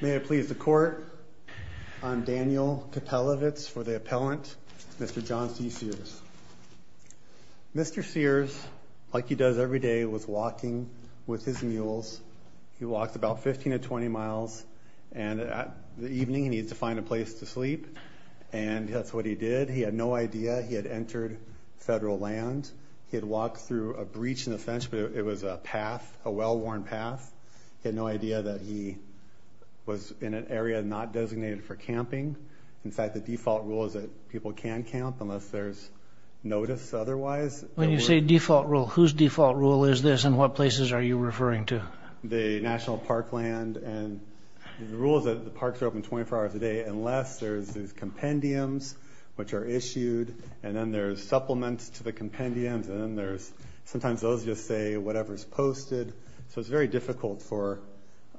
May it please the court, I'm Daniel Kapelovitz for the appellant, Mr. John C. Sears. Mr. Sears, like he does every day, was walking with his mules. He walked about 15 to 20 miles and the evening he needs to find a place to sleep and that's what he did. He had no idea he had entered federal land. He had walked through a breach in the fence but it was a path, a well-worn path. He had no idea that he was in an area not designated for camping. In fact, the default rule is that people can camp unless there's notice otherwise. When you say default rule, whose default rule is this and what places are you referring to? The National Parkland and the rules that the parks are open 24 hours a day unless there's these compendiums which are issued and then there's supplements to the compendiums and then there's sometimes those just say whatever's posted. So it's very difficult for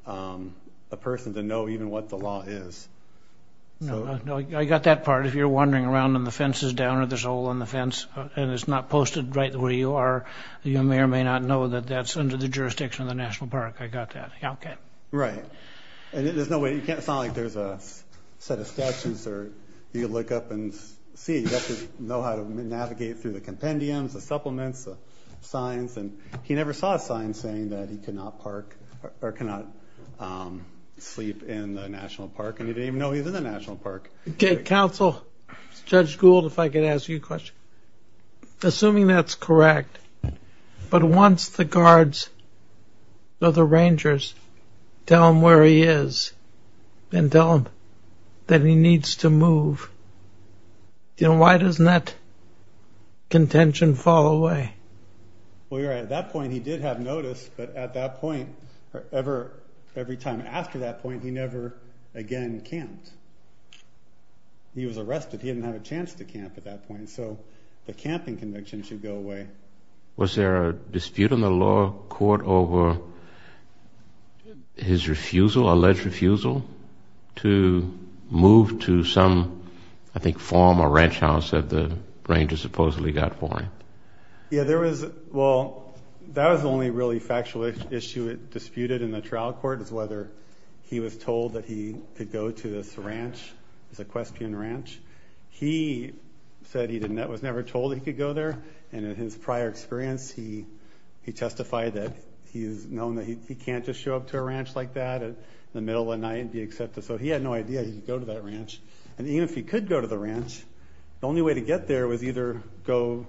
a person to know even what the law is. No, I got that part. If you're wandering around and the fence is down or there's a hole in the fence and it's not posted right where you are, you may or may not know that that's under the jurisdiction of the National Park. I got that. Okay. Right. And there's no way, you can't sound like there's a set of statutes or you look up and see. You have to know how to navigate through the compendiums, the supplements, the signs and he never saw a sign saying that he cannot sleep in the National Park and he didn't even know he was in the National Park. Okay, counsel, Judge Gould, if I could ask you a question. Assuming that's correct, but once the guards or the rangers tell him where he is and tell him that he needs to move, you know, why doesn't that contention fall away? Well, you're right. At that point, he did have notice, but at that point, every time after that point, he never again camped. He was arrested. He didn't have a chance to camp at that point. So the camping conviction should go away. Was there a dispute in the law court over his refusal, alleged refusal, to move to some, I think, farm or ranch house that the rangers supposedly got for him? Yeah, there was, well, that was the only really factual issue disputed in the trial court is whether he was told that he could go to this ranch, this equestrian ranch. He said he was never told he could go there and in his prior experience, he testified that he's known that he can't just show up to a ranch like that in the middle of the night and be accepted. So he had no idea he could go to that ranch. And even if he could go to the ranch, the only way to get there was either go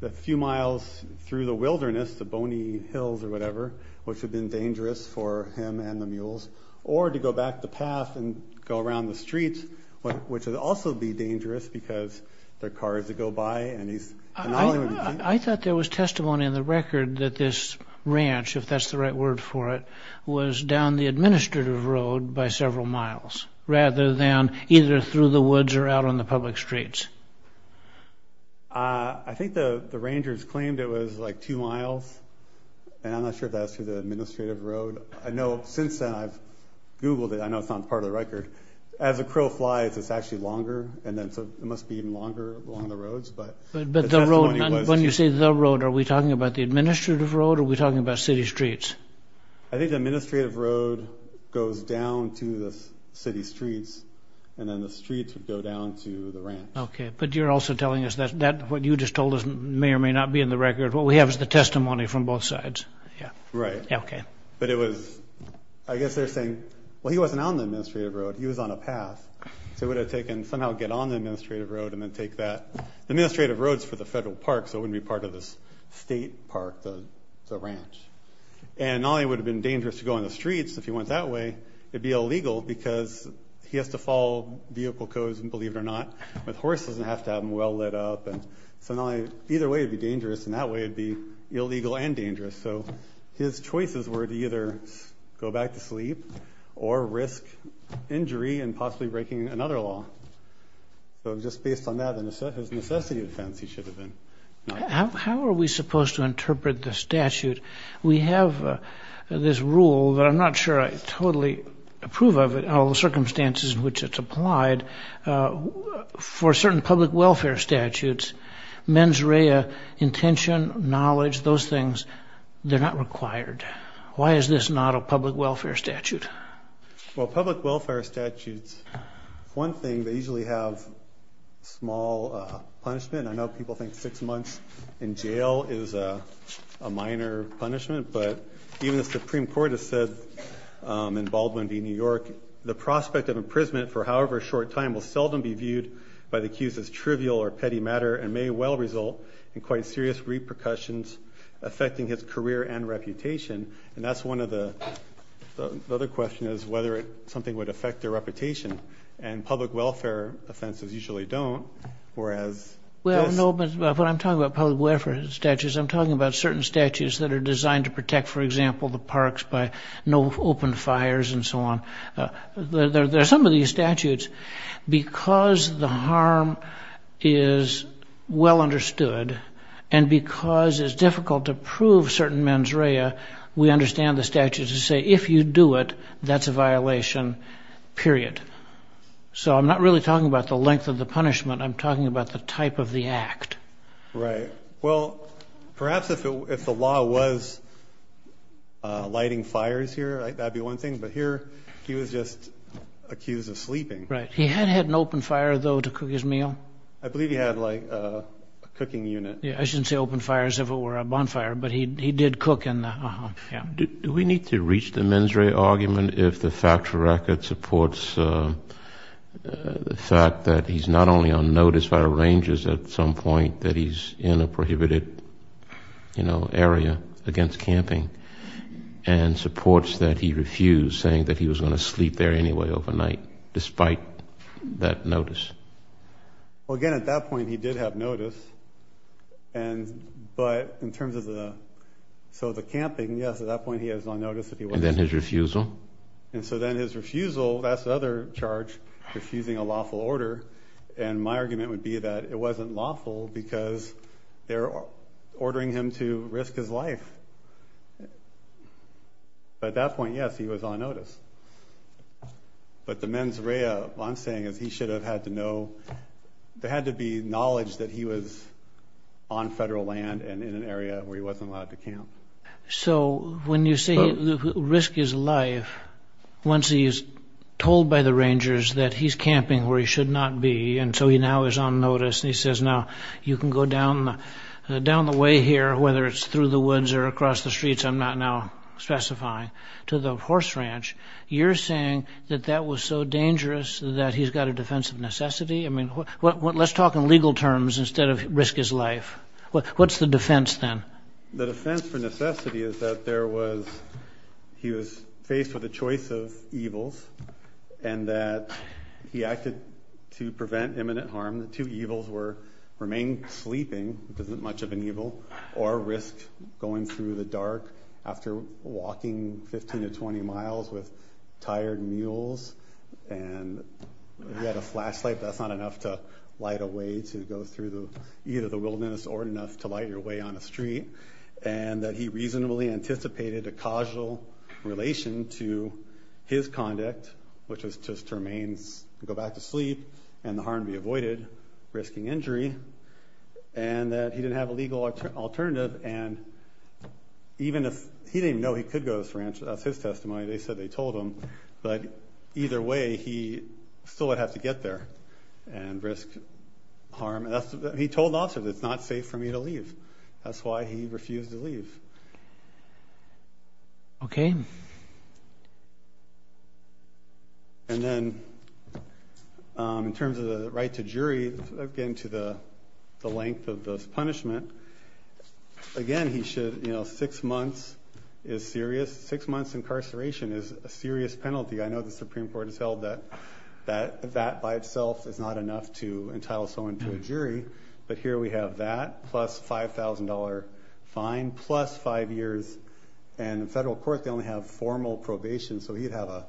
a few miles through the wilderness, the bony hills or whatever, which had been dangerous for him and the mules, or to go back the path and go around the streets, which would also be dangerous because there are cars that go by. I thought there was testimony in the record that this ranch, if that's the right word for it, was down the administrative road by several miles rather than either through the woods or out on the public streets. I think the rangers claimed it was like two miles and I'm not sure if that's through the administrative road. I know since then I've Googled it. I know it's not part of the record. As a crow flies, it's actually longer and then it must be even longer along the roads. When you say the road, are we talking about the administrative road or are we talking about city streets? I think the administrative road goes down to the city streets and then the streets would go down to the ranch. Okay, but you're also telling us that what you just told us may or may not be in the record. What we have is the testimony from both sides. Right, but it was, I guess they're saying, well he wasn't on the administrative road, he was on a path. So it would have taken somehow get on the administrative road and then take that. The administrative road's for the federal park so it wouldn't be part of this state park, the ranch. And not only would it have been dangerous to go on the streets if he went that way, it'd be illegal because he has to follow vehicle codes and believe it or not with horses and have to have them well lit up and so either way it'd be dangerous and that way it'd be illegal and his choices were to either go back to sleep or risk injury and possibly breaking another law. So just based on that, his necessity of defense he should have been. How are we supposed to interpret the statute? We have this rule that I'm not sure I totally approve of it, all the circumstances in which it's applied for certain public welfare statutes, mens rea, intention, knowledge, those things, they're not required. Why is this not a public welfare statute? Well public welfare statutes, one thing, they usually have small punishment. I know people think six months in jail is a minor punishment but even the Supreme Court has said in Baldwin v. New York, the prospect of imprisonment for however short time will trivial or petty matter and may well result in quite serious repercussions affecting his career and reputation and that's one of the other question is whether something would affect their reputation and public welfare offenses usually don't whereas... Well no but when I'm talking about public welfare statutes, I'm talking about certain statutes that are designed to protect for example the parks by no open fires and so on. There are some of these statutes because the harm is well understood and because it's difficult to prove certain mens rea, we understand the statute to say if you do it, that's a violation, period. So I'm not really talking about the length of the punishment, I'm talking about the type of the act. Right, well perhaps if the law was lighting fires here, that'd be one thing, but here he was just had an open fire though to cook his meal. I believe he had like a cooking unit. Yeah, I shouldn't say open fire as if it were a bonfire, but he did cook in the... Do we need to reach the mens rea argument if the factual record supports the fact that he's not only on notice by rangers at some point that he's in a prohibited area against camping and supports that he refused saying that he was going to sleep there anyway overnight despite that notice? Well again at that point he did have notice, and but in terms of the, so the camping yes at that point he has on notice. And then his refusal? And so then his refusal, that's the other charge, refusing a lawful order, and my argument would be that it wasn't lawful because they're ordering him to risk his life. But at that point yes he was on notice. But the mens rea, what I'm saying is he should have had to know, there had to be knowledge that he was on federal land and in an area where he wasn't allowed to camp. So when you say the risk is life, once he's told by the rangers that he's camping where he should not be, and so he now is on notice, and he says now you can go down the way here, whether it's through the woods or across the streets I'm not now specifying, to the horse ranch, you're saying that that was so dangerous that he's got a defense of necessity? I mean let's talk in legal terms instead of risk his life. What's the defense then? The defense for necessity is that there was, he was faced with a choice of evils, and that he acted to prevent imminent harm. The two evils were remain sleeping, which isn't much of an evil, or risk going through the dark after walking 15 to 20 miles with tired mules, and if you had a flashlight that's not enough to light a way to go through either the wilderness or enough to light your way on a street. And that he reasonably anticipated a causal relation to his conduct, which was just to remain, go back to sleep, and the harm be avoided, risking injury, and that he didn't have a legal alternative, and even if he didn't know he could go to this ranch, that's his testimony, they said they told him, but either way he still would have to get there and risk harm. He told the officer that it's not safe for me to leave, that's why he refused to leave. Okay. And then in terms of the right to jury, again to the length of this punishment, again he should, you know, six months is serious, six months incarceration is a serious penalty. I know the Supreme Court has held that that by itself is not enough to entitle someone to a jury, but here we have that, plus $5,000 fine, plus five years, and in federal court they only have formal probation, so he'd have a,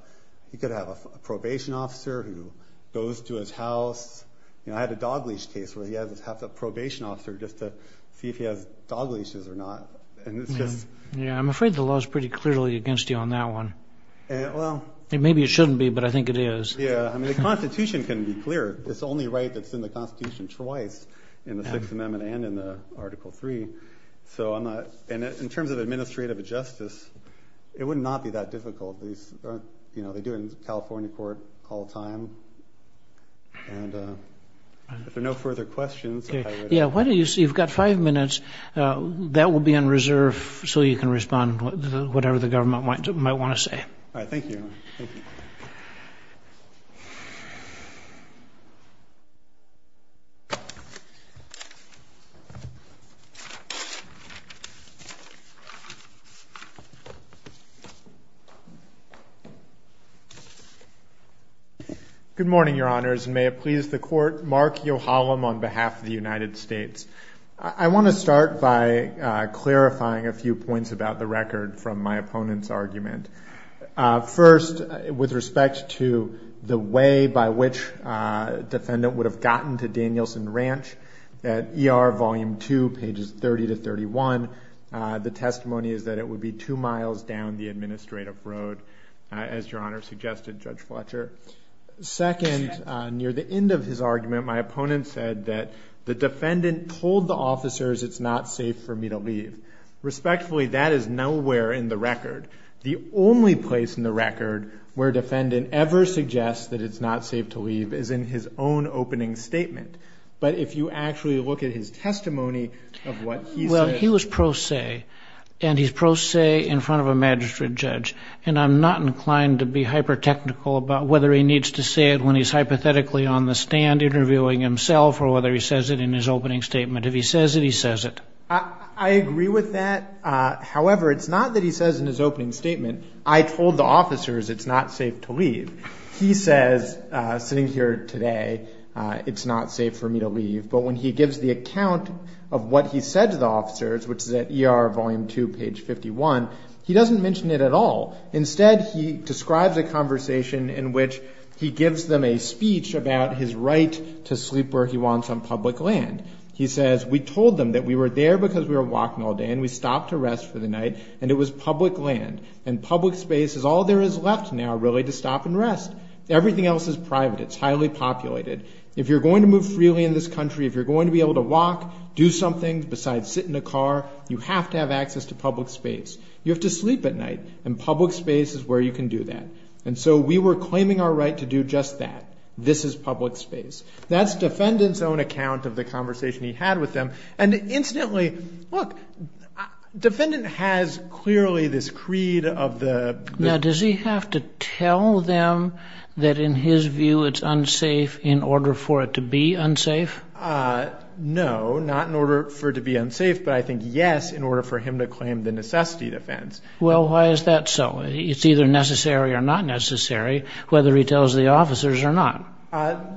he could have a probation officer who goes to his house, you know, I had a dog leash case where he had to have a probation officer just to see if he has dog leashes or not, and it's just... Yeah, I'm afraid the law is pretty clearly against you on that one. Well... Maybe it shouldn't be, but I think it is. Yeah, I mean the Constitution can be clear, it's the only right that's in the Constitution twice, in the Sixth Amendment and in the Article Three, so I'm not, and in terms of administrative justice, it would not be that difficult. These, you know, they do it in California court all the time, and if there are no further questions... Yeah, why don't you, you've got five minutes, that will be on reserve so you can respond to whatever the government might want to say. All right, thank you. Good morning, your honors, and may it please the court, Mark Yohalam on behalf of the United States. I want to start by clarifying a few points about the record from my opponent's argument. First, with respect to the way by which a defendant would have gotten to Danielson Ranch at ER Volume Two, pages 30 to 31, the testimony is that it would be two miles down the administrative road, as your honor suggested, Judge Fletcher. Second, near the end of his argument, my opponent said that the defendant told the officers it's not safe for me to leave. Respectfully, that is nowhere in the record. The only place in the record where a defendant ever suggests that it's not safe to leave is in his own opening statement, but if you actually look at his testimony of what he said... Well, he was pro se, and he's pro se in front of a magistrate judge, and I'm not inclined to be hyper technical about whether he needs to say it when he's hypothetically on the stand interviewing himself, or whether he says it in his opening statement. If he says it, he says it. I agree with that. However, it's not that he says in his opening statement, I told the officers it's not safe to leave. He says, sitting here today, it's not safe for me to leave. But when he gives the account of what he said to the officers, which is at ER Volume Two, page 51, he doesn't mention it at all. Instead, he describes a conversation in which he gives them a speech about his right to sleep where he wants on public land. He says, we told them that we were there because we were walking all day, and we stopped to rest for the night, and it was public land. And public space is all there is left now, really, to stop and rest. Everything else is private. It's highly populated. If you're going to move freely in this country, if you're going to be able to walk, do something besides sit in a car, you have to have access to public space. You have to sleep at night, and public space is where you can do that. And so we were claiming our right to do just that. This is public space. That's defendant's own of the conversation he had with them. And incidentally, look, defendant has clearly this creed of the... Now, does he have to tell them that, in his view, it's unsafe in order for it to be unsafe? No, not in order for it to be unsafe, but I think, yes, in order for him to claim the necessity defense. Well, why is that so? It's either necessary or not necessary, whether he tells the officers or not.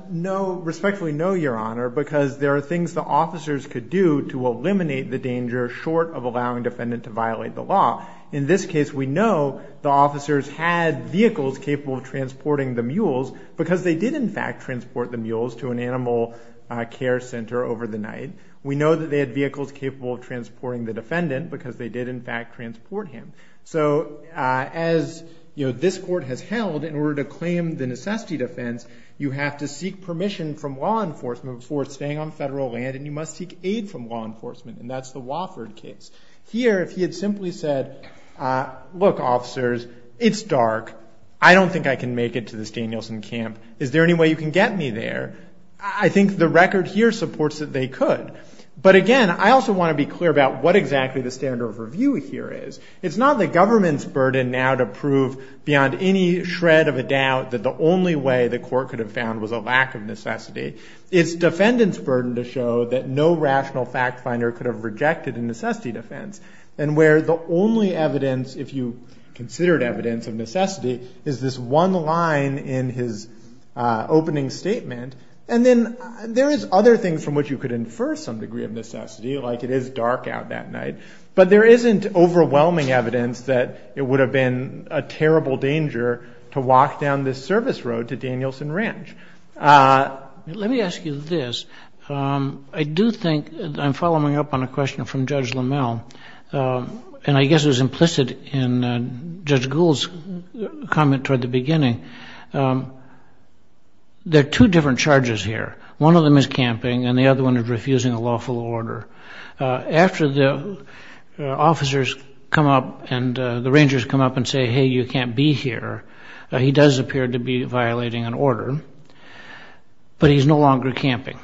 No, respectfully no, Your Honor, because there are things the officers could do to eliminate the danger short of allowing defendant to violate the law. In this case, we know the officers had vehicles capable of transporting the mules because they did, in fact, transport the mules to an animal care center over the night. We know that they had vehicles capable of transporting the defendant because they did, in fact, transport him. So as this court has held, in order to claim the necessity defense, you have to seek permission from law enforcement for staying on federal land, and you must seek aid from law enforcement. And that's the Wofford case. Here, if he had simply said, look, officers, it's dark. I don't think I can make it to this Danielson camp. Is there any way you can get me there? I think the record here supports that they could. But again, I also want to be clear about what not the government's burden now to prove beyond any shred of a doubt that the only way the court could have found was a lack of necessity. It's defendant's burden to show that no rational fact finder could have rejected a necessity defense, and where the only evidence, if you considered evidence of necessity, is this one line in his opening statement. And then there is other things from which you could infer some degree of necessity, like it is dark out that it would have been a terrible danger to walk down this service road to Danielson Ranch. Let me ask you this. I do think I'm following up on a question from Judge LaMelle, and I guess it was implicit in Judge Gould's comment toward the beginning. There are two different charges here. One of them is camping, and the other one is refusing a lawful order. After the officers come up and the rangers come up and say, hey, you can't be here, he does appear to be violating an order, but he's no longer camping.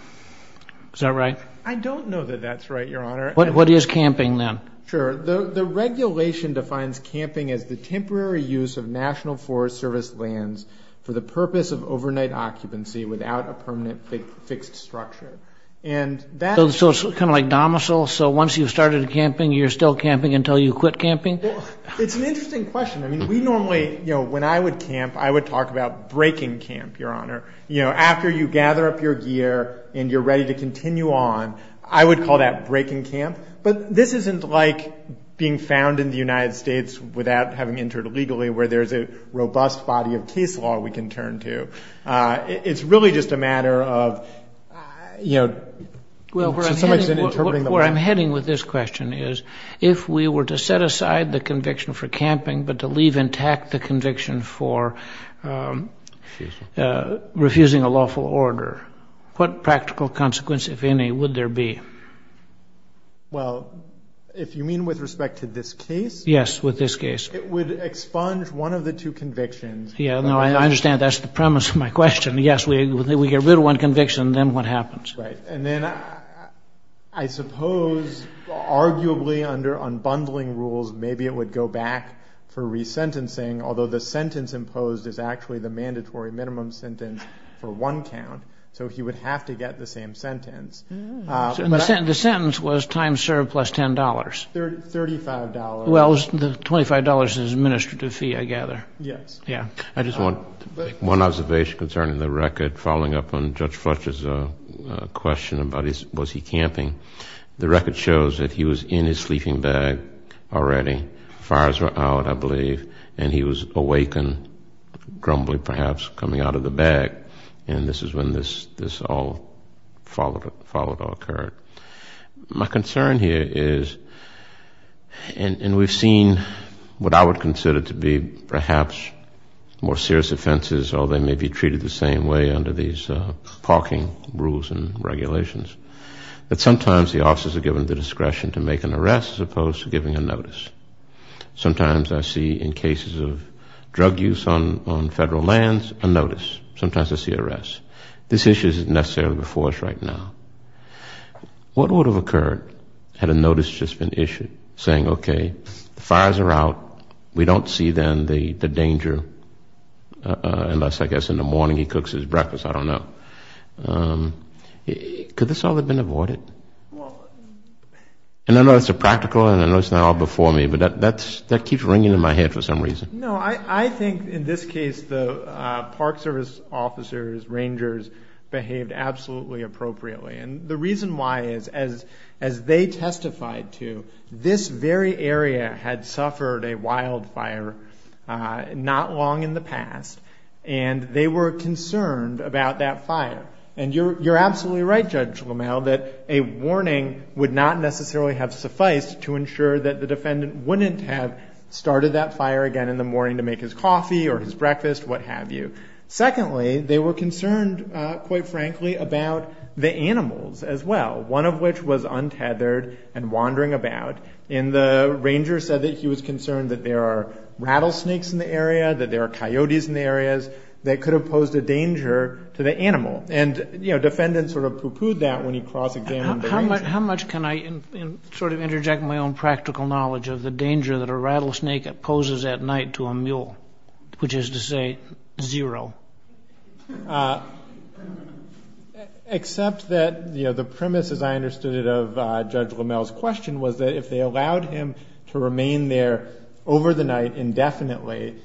Is that right? I don't know that that's right, Your Honor. What is camping then? Sure. The regulation defines camping as the temporary use of National Forest Service lands for the purpose of overnight occupancy without a permanent fixed structure. And that's... Kind of like domicile. So once you've started camping, you're still camping until you quit camping? It's an interesting question. I mean, we normally, you know, when I would camp, I would talk about breaking camp, Your Honor. You know, after you gather up your gear and you're ready to continue on, I would call that breaking camp. But this isn't like being found in the United States without having entered illegally, where there's a robust body of case law we can turn to. It's really just a matter of, you know... Well, where I'm heading with this question is, if we were to set aside the conviction for camping, but to leave intact the conviction for refusing a lawful order, what practical consequence, if any, would there be? Well, if you mean with respect to this case? Yes, with this case. It would expunge one of the two convictions. Yeah, no, I understand. That's the premise of my question. Yes, we get rid of one conviction, then what happens? And then I suppose, arguably, under unbundling rules, maybe it would go back for resentencing, although the sentence imposed is actually the mandatory minimum sentence for one count. So he would have to get the same sentence. The sentence was time served plus $10. $35. Well, $25 is an administrative fee, I gather. Yes. I just want one observation concerning the record following up on Judge Fletcher's question about was he camping. The record shows that he was in his sleeping bag already. Fires were out, I believe. And he was awakened, grumbly perhaps, coming out of the bag. And this is when this all followed occurred. My concern here is, and we've seen what I would consider to be perhaps more serious offenses, although they may be treated the same way under these parking rules and regulations, that sometimes the officers are given the discretion to make an arrest as opposed to giving a notice. Sometimes I see in cases of drug use on federal lands a notice. Sometimes I see arrests. This issue isn't necessarily before us right now. What would have occurred had a notice just been issued saying, okay, the fires are out. We don't see then the danger unless, I guess, in the morning he cooks his breakfast. I don't know. Could this all have been avoided? And I know it's a practical and I know it's not all before me, but that keeps ringing in my head for some reason. No, I think in this case the Park Service officers, rangers behaved absolutely appropriately. And the reason why is, as they testified to, this very area had suffered a wildfire not long in the past and they were concerned about that fire. And you're absolutely right, Judge LaMalle, that a warning would not necessarily have sufficed to ensure that the defendant wouldn't have started that fire again in the morning to make his coffee or his breakfast, what have you. Secondly, they were concerned, quite frankly, about the animals as well, one of which was untethered and wandering about. And the ranger said that he was concerned that there are rattlesnakes in the area, that there are coyotes in the areas that could have posed a danger to the animal. And, you know, the defendant sort of pooh-poohed that when he cross-examined the ranger. How much can I sort of interject my own practical knowledge of the danger that a rattlesnake poses at night to a mule, which is to say zero? Except that, you know, the premise, as I understood it of Judge LaMalle's question, was that if they allowed him to remain there over the night indefinitely,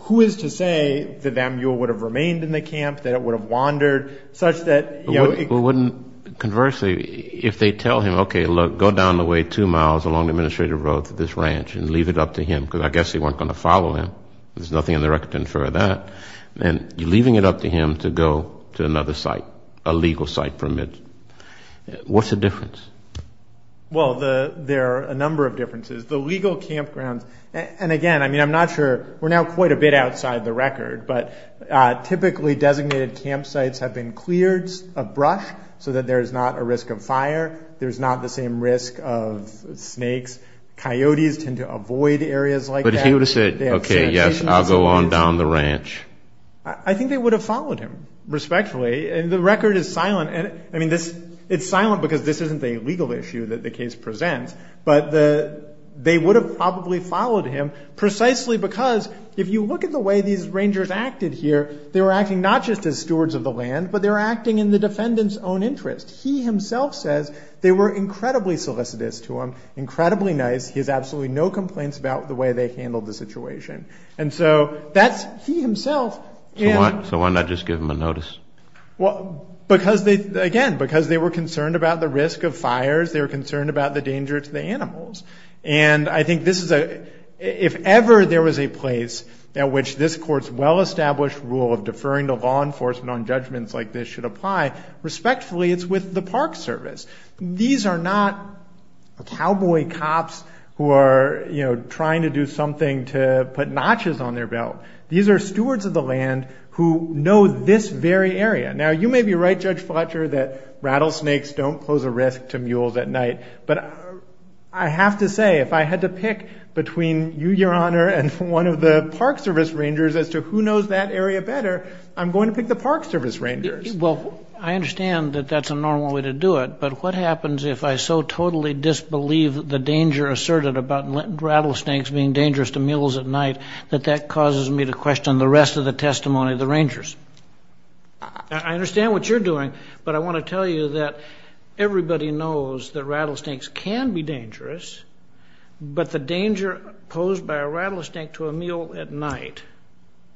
who is to say that that mule would have remained in the camp, that it would have wandered, such that, you know, it wouldn't. Conversely, if they tell him, okay, look, go down the way two miles along the administrative road to this ranch and leave it up to him, because I guess they weren't going to follow him. There's nothing in the record to infer that. And you're leaving it up to him to go to another site, a legal site permitted. What's the difference? Well, there are a number of differences. The legal campgrounds, and again, I mean, I'm not sure, we're now quite a bit outside the record, but typically designated campsites have been cleared abrush so that there's not a risk of fire. There's not the same risk of snakes. Coyotes tend to avoid areas like that. But if he would have said, okay, yes, I'll go on down the ranch. I think they would have followed him, respectfully. And the record is silent. And I mean, it's silent because this isn't a legal issue that the case presents, but they would have probably followed him precisely because if you look at the way these rangers acted here, they were acting not just as stewards of the land, but they were acting in the defendant's own interest. He himself says they were incredibly solicitous to him, incredibly nice. He has absolutely no complaints about the way they handled the situation. And so that's he himself. So why not just give them a notice? Because they, again, because they were concerned about the risk of fires, they were concerned about the danger to the animals. And I think this is a, if ever there was a place at which this court's well-established rule of deferring to law enforcement on judgments like this should apply, respectfully, it's with the park service. These are not cowboy cops who are, you know, trying to do something to put notches on their belt. These are stewards of the land who know this very area. Now, you may be right, Judge Fletcher, that rattlesnakes don't pose a risk to mules at night. But I have to say, if I had to pick between you, Your Honor, and one of the park service rangers as to who knows that area better, I'm going to pick the park service rangers. Well, I understand that that's a normal way to do it. But what happens if I so totally disbelieve the danger asserted about rattlesnakes being dangerous to mules at night that that causes me to question the rest of the testimony of the rangers? I understand what you're doing. But I want to tell you that everybody knows that rattlesnakes can be dangerous. But the danger posed by a rattlesnake to a mule at night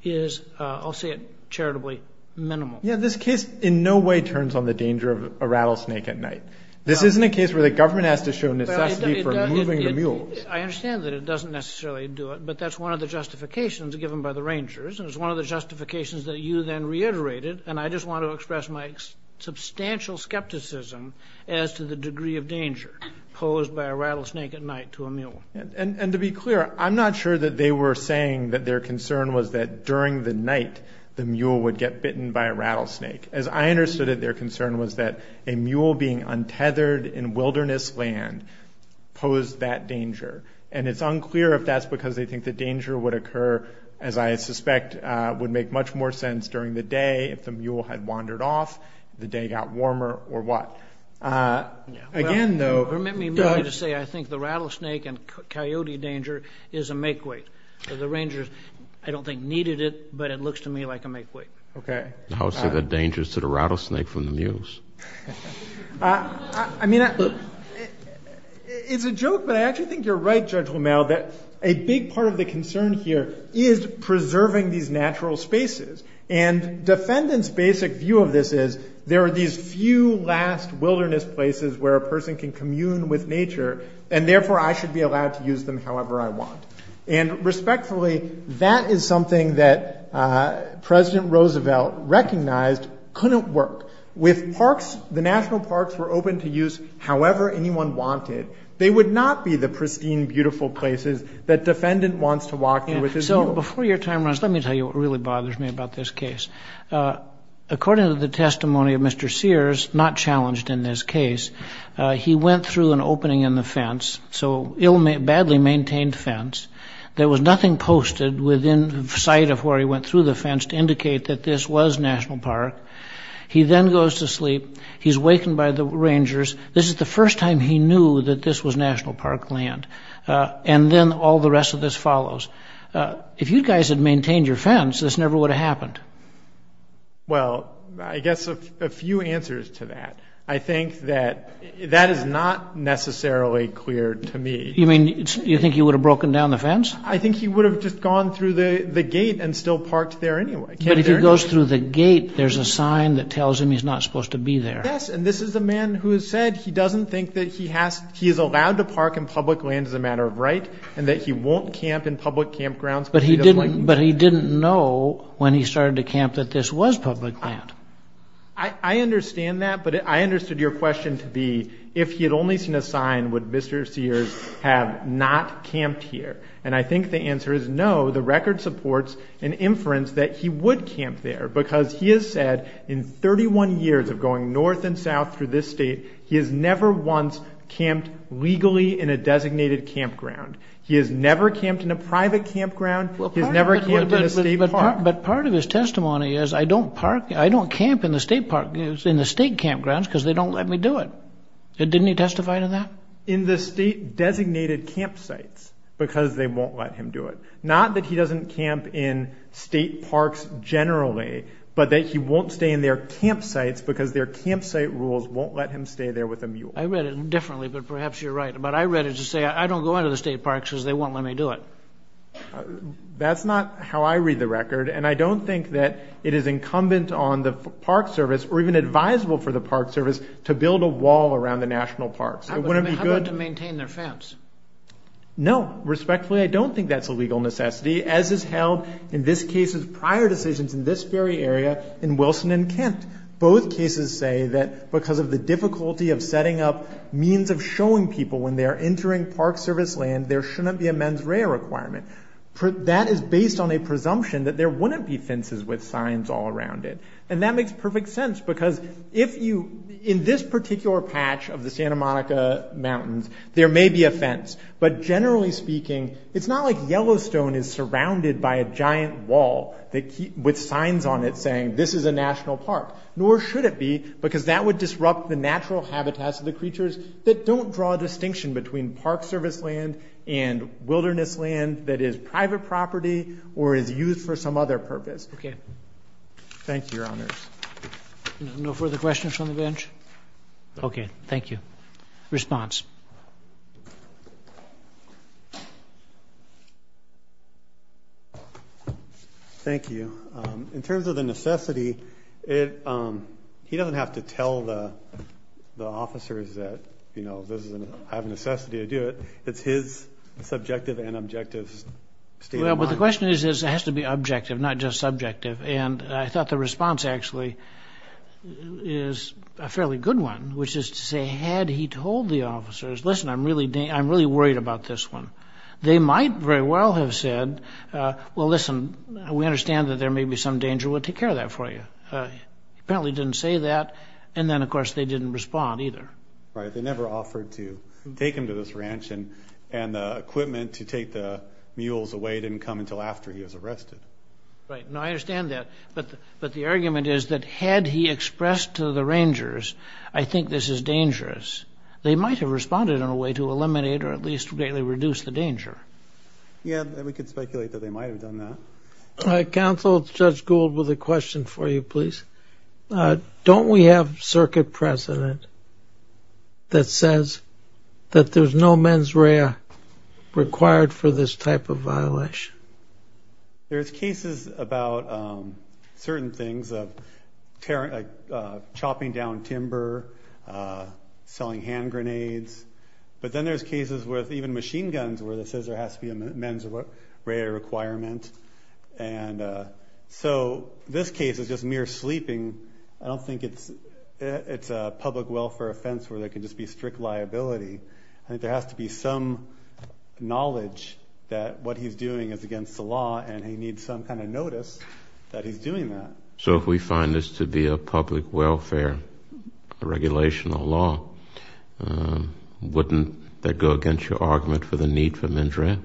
is, I'll say it charitably, minimal. Yeah, this case in no way turns on the danger of a rattlesnake at night. This isn't a case where the government has to show necessity for moving the mules. I understand that it doesn't necessarily do it, but that's one of the justifications given by the rangers. And it's one of the justifications that you then reiterated. And I just want to express my substantial skepticism as to the degree of danger posed by a rattlesnake at night to a mule. And to be clear, I'm not sure that they were saying that their concern was that during the night, the mule would get bitten by a rattlesnake. As I understood it, their concern was that a mule being untethered in wilderness land posed that danger. And it's unclear if that's because they think the danger would occur, as I suspect, would make much more sense during the day if the mule had wandered off, the day got warmer or what. Again, though— Well, permit me to say I think the rattlesnake and coyote danger is a makeweight. The rangers, I don't think, needed it, but it looks to me like a makeweight. Okay. I would say the danger is to the rattlesnake from the mules. I mean, it's a joke, but I actually think you're right, Judge Romero, that a big part of the concern here is preserving these natural spaces. And defendants' basic view of this is there are these few last wilderness places where a person can commune with nature, and therefore I should be allowed to use them however I want. And respectfully, that is something that President Roosevelt recognized couldn't work. With parks, the national parks were open to use however anyone wanted. They would not be the pristine, beautiful places that defendant wants to walk in with his mule. So before your time runs, let me tell you what really bothers me about this case. According to the testimony of Mr. Sears, not challenged in this case, he went through an fence. There was nothing posted within sight of where he went through the fence to indicate that this was National Park. He then goes to sleep. He's wakened by the rangers. This is the first time he knew that this was National Park land. And then all the rest of this follows. If you guys had maintained your fence, this never would have happened. Well, I guess a few answers to that. I think that that is not necessarily clear to me. You mean, you think he would have broken down the fence? I think he would have just gone through the gate and still parked there anyway. But if he goes through the gate, there's a sign that tells him he's not supposed to be there. Yes, and this is a man who has said he doesn't think that he has, he is allowed to park in public land as a matter of right and that he won't camp in public campgrounds. But he didn't, but he didn't know when he started to camp that this was public land. I understand that. But I understood your question to be, if he had only seen a sign, would Mr. Sears have not camped here? And I think the answer is no. The record supports an inference that he would camp there because he has said in 31 years of going north and south through this state, he has never once camped legally in a designated campground. He has never camped in a private campground. He has never camped in a state park. But part of his testimony is, I don't camp in the state campgrounds because they don't let me do it. Didn't he testify to that? In the state designated campsites, because they won't let him do it. Not that he doesn't camp in state parks generally, but that he won't stay in their campsites because their campsite rules won't let him stay there with a mule. I read it differently, but perhaps you're right. But I read it to say, I don't go into the state parks because they won't let me do it. That's not how I read the record. And I don't think that it is incumbent on the Park Service, or even advisable for the Park Service, to build a wall around the national parks. It wouldn't be good. How about to maintain their fence? No, respectfully, I don't think that's a legal necessity, as is held in this case's prior decisions in this very area in Wilson and Kent. Both cases say that because of the difficulty of setting up means of showing people when they are entering Park Service land, there shouldn't be a mens rea requirement. That is based on a presumption that there wouldn't be fences with signs all around it. And that makes perfect sense, because if you, in this particular patch of the Santa Monica Mountains, there may be a fence. But generally speaking, it's not like Yellowstone is surrounded by a giant wall with signs on it saying, this is a national park. Nor should it be, because that would disrupt the natural habitats of the creatures that live there. But don't draw a distinction between Park Service land and wilderness land that is private property or is used for some other purpose. Okay. Thank you, Your Honors. No further questions from the bench? Okay, thank you. Response. Thank you. In terms of the necessity, he doesn't have to tell the officers that I have a necessity to do it. It's his subjective and objective state of mind. Well, but the question is, it has to be objective, not just subjective. And I thought the response, actually, is a fairly good one, which is to say, had he told the officers, listen, I'm really worried about this one. They might very well have said, well, listen, we understand that there may be some danger. We'll take care of that for you. He apparently didn't say that. And then, of course, they didn't respond either. Right. They never offered to take him to this ranch. And the equipment to take the mules away didn't come until after he was arrested. Right. No, I understand that. But the argument is that had he expressed to the rangers, I think this is dangerous, they might have responded in a way to eliminate or at least greatly reduce the danger. Yeah, we could speculate that they might have done that. Counsel, Judge Gould with a question for you, please. Don't we have circuit precedent that says that there's no mens rea required for this type of violation? There's cases about certain things of chopping down timber, selling hand grenades. But then there's cases with even machine guns where it says there has to be a mens rea requirement. And so this case is just mere sleeping. I don't think it's a public welfare offense where there can just be strict liability. I think there has to be some knowledge that what he's doing is against the law and he needs some kind of notice that he's doing that. So if we find this to be a public welfare, a regulation, a law, wouldn't that go against your argument for the need for mens rea?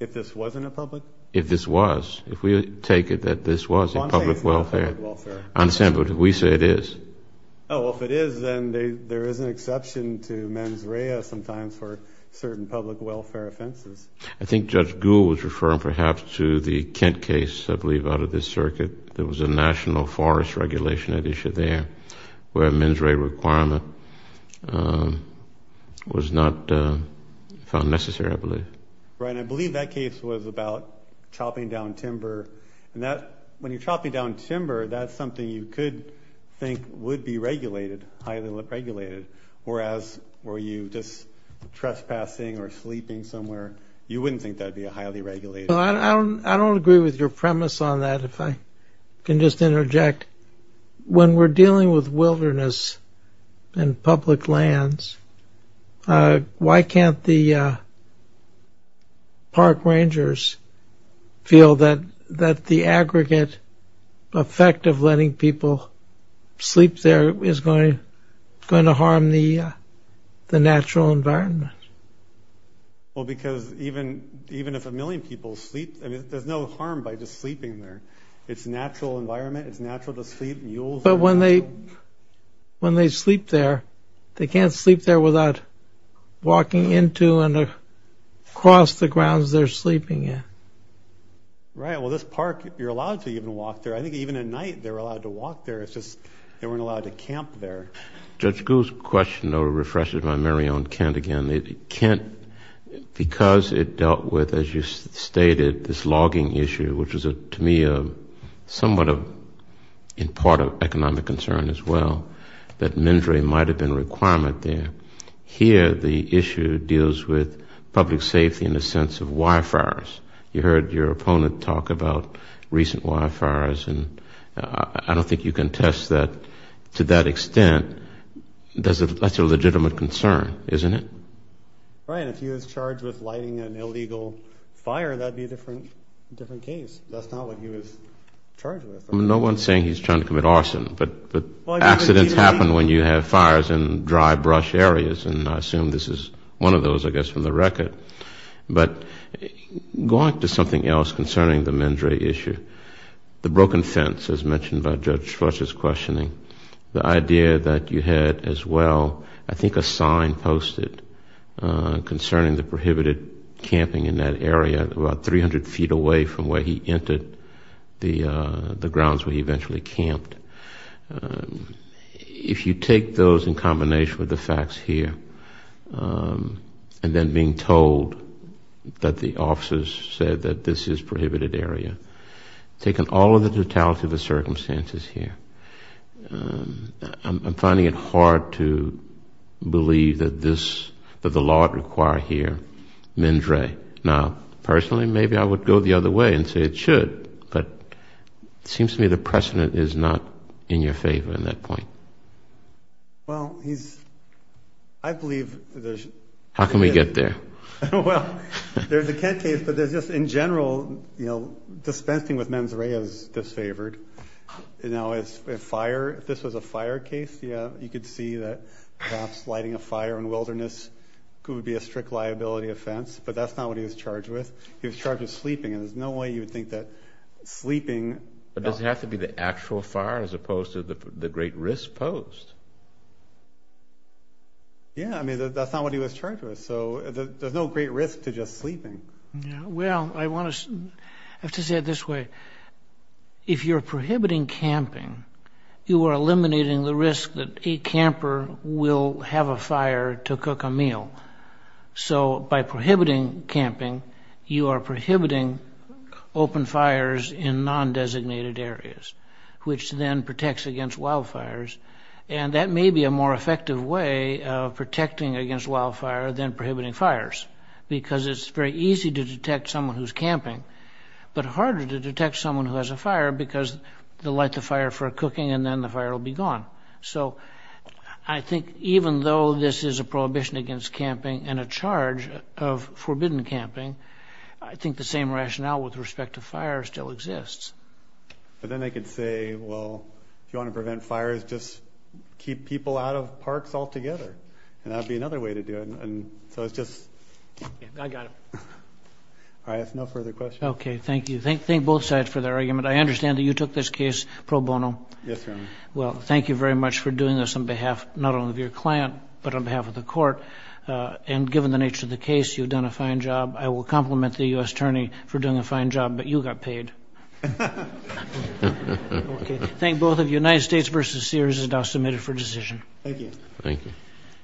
If this wasn't a public? If this was. If we take it that this was a public welfare. One thing is not public welfare. I understand, but if we say it is. Oh, well, if it is, then there is an exception to mens rea sometimes for certain public welfare offenses. I think Judge Gould was referring perhaps to the Kent case, I believe, out of this circuit. There was a national forest regulation at issue there where a mens rea requirement was not found necessary, I believe. Right. And I believe that case was about chopping down timber and that when you're chopping down timber, that's something you could think would be regulated, highly regulated, whereas were you just trespassing or sleeping somewhere, you wouldn't think that would be a highly regulated. Well, I don't agree with your premise on that, if I can just interject. When we're dealing with wilderness and public lands, why can't the park rangers feel that the aggregate effect of letting people sleep there is going to harm the natural environment? Well, because even if a million people sleep, there's no harm by just sleeping there. It's a natural environment. It's natural to sleep. Mules. But when they sleep there, they can't sleep there without walking into and across the grounds they're sleeping in. Right. Yeah. Well, this park, you're allowed to even walk there. I think even at night, they're allowed to walk there. It's just they weren't allowed to camp there. Judge Gould's question, though, refreshes my memory on Kent again. Kent, because it dealt with, as you stated, this logging issue, which was to me somewhat a part of economic concern as well, that mens rea might have been a requirement there. Here, the issue deals with public safety in the sense of wire fires. You heard your opponent talk about recent wire fires, and I don't think you can test that to that extent. That's a legitimate concern, isn't it? Right. And if he was charged with lighting an illegal fire, that would be a different case. That's not what he was charged with. No one's saying he's trying to commit arson, but accidents happen when you have fires in dry brush areas, and I assume this is one of those, I guess, from the record. But going to something else concerning the mens rea issue, the broken fence, as mentioned by Judge Schwartz's questioning, the idea that you had, as well, I think a sign posted concerning the prohibited camping in that area, about 300 feet away from where he entered the grounds where he eventually camped. If you take those in combination with the facts here, and then being told that the officers said that this is a prohibited area, taking all of the totality of the circumstances here, I'm finding it hard to believe that the law would require here mens rea. Now, personally, maybe I would go the other way and say it should, but it seems to me the precedent is not in your favor at that point. Well, he's... I believe there's... How can we get there? Well, there's the Kent case, but there's just, in general, dispensing with mens rea is disfavored. Now, if this was a fire case, you could see that perhaps lighting a fire in wilderness could be a strict liability offense, but that's not what he was charged with. He was charged with sleeping, and there's no way you would think that sleeping... But does it have to be the actual fire, as opposed to the great risk posed? Yeah, I mean, that's not what he was charged with, so there's no great risk to just sleeping. Well, I want to... I have to say it this way. If you're prohibiting camping, you are eliminating the risk that a camper will have a fire to cook a meal. So, by prohibiting camping, you are prohibiting open fires in non-designated areas, which then protects against wildfires, and that may be a more effective way of protecting against wildfire than prohibiting fires, because it's very easy to detect someone who's camping, but harder to detect someone who has a fire, because they'll light the fire for a cooking and then the fire will be gone. So, I think even though this is a prohibition against camping and a charge of forbidden camping, I think the same rationale with respect to fire still exists. But then they could say, well, if you want to prevent fires, just keep people out of parks altogether, and that would be another way to do it, and so it's just... I got it. All right, I have no further questions. Okay, thank you. Thank both sides for their argument. I understand that you took this case pro bono. Yes, Your Honor. Well, thank you very much for doing this on behalf, not only of your client, but on behalf of the court, and given the nature of the case, you've done a fine job. I will compliment the U.S. Attorney for doing a fine job, but you got paid. Okay. Thank both of you. United States v. Sears is now submitted for decision. Thank you.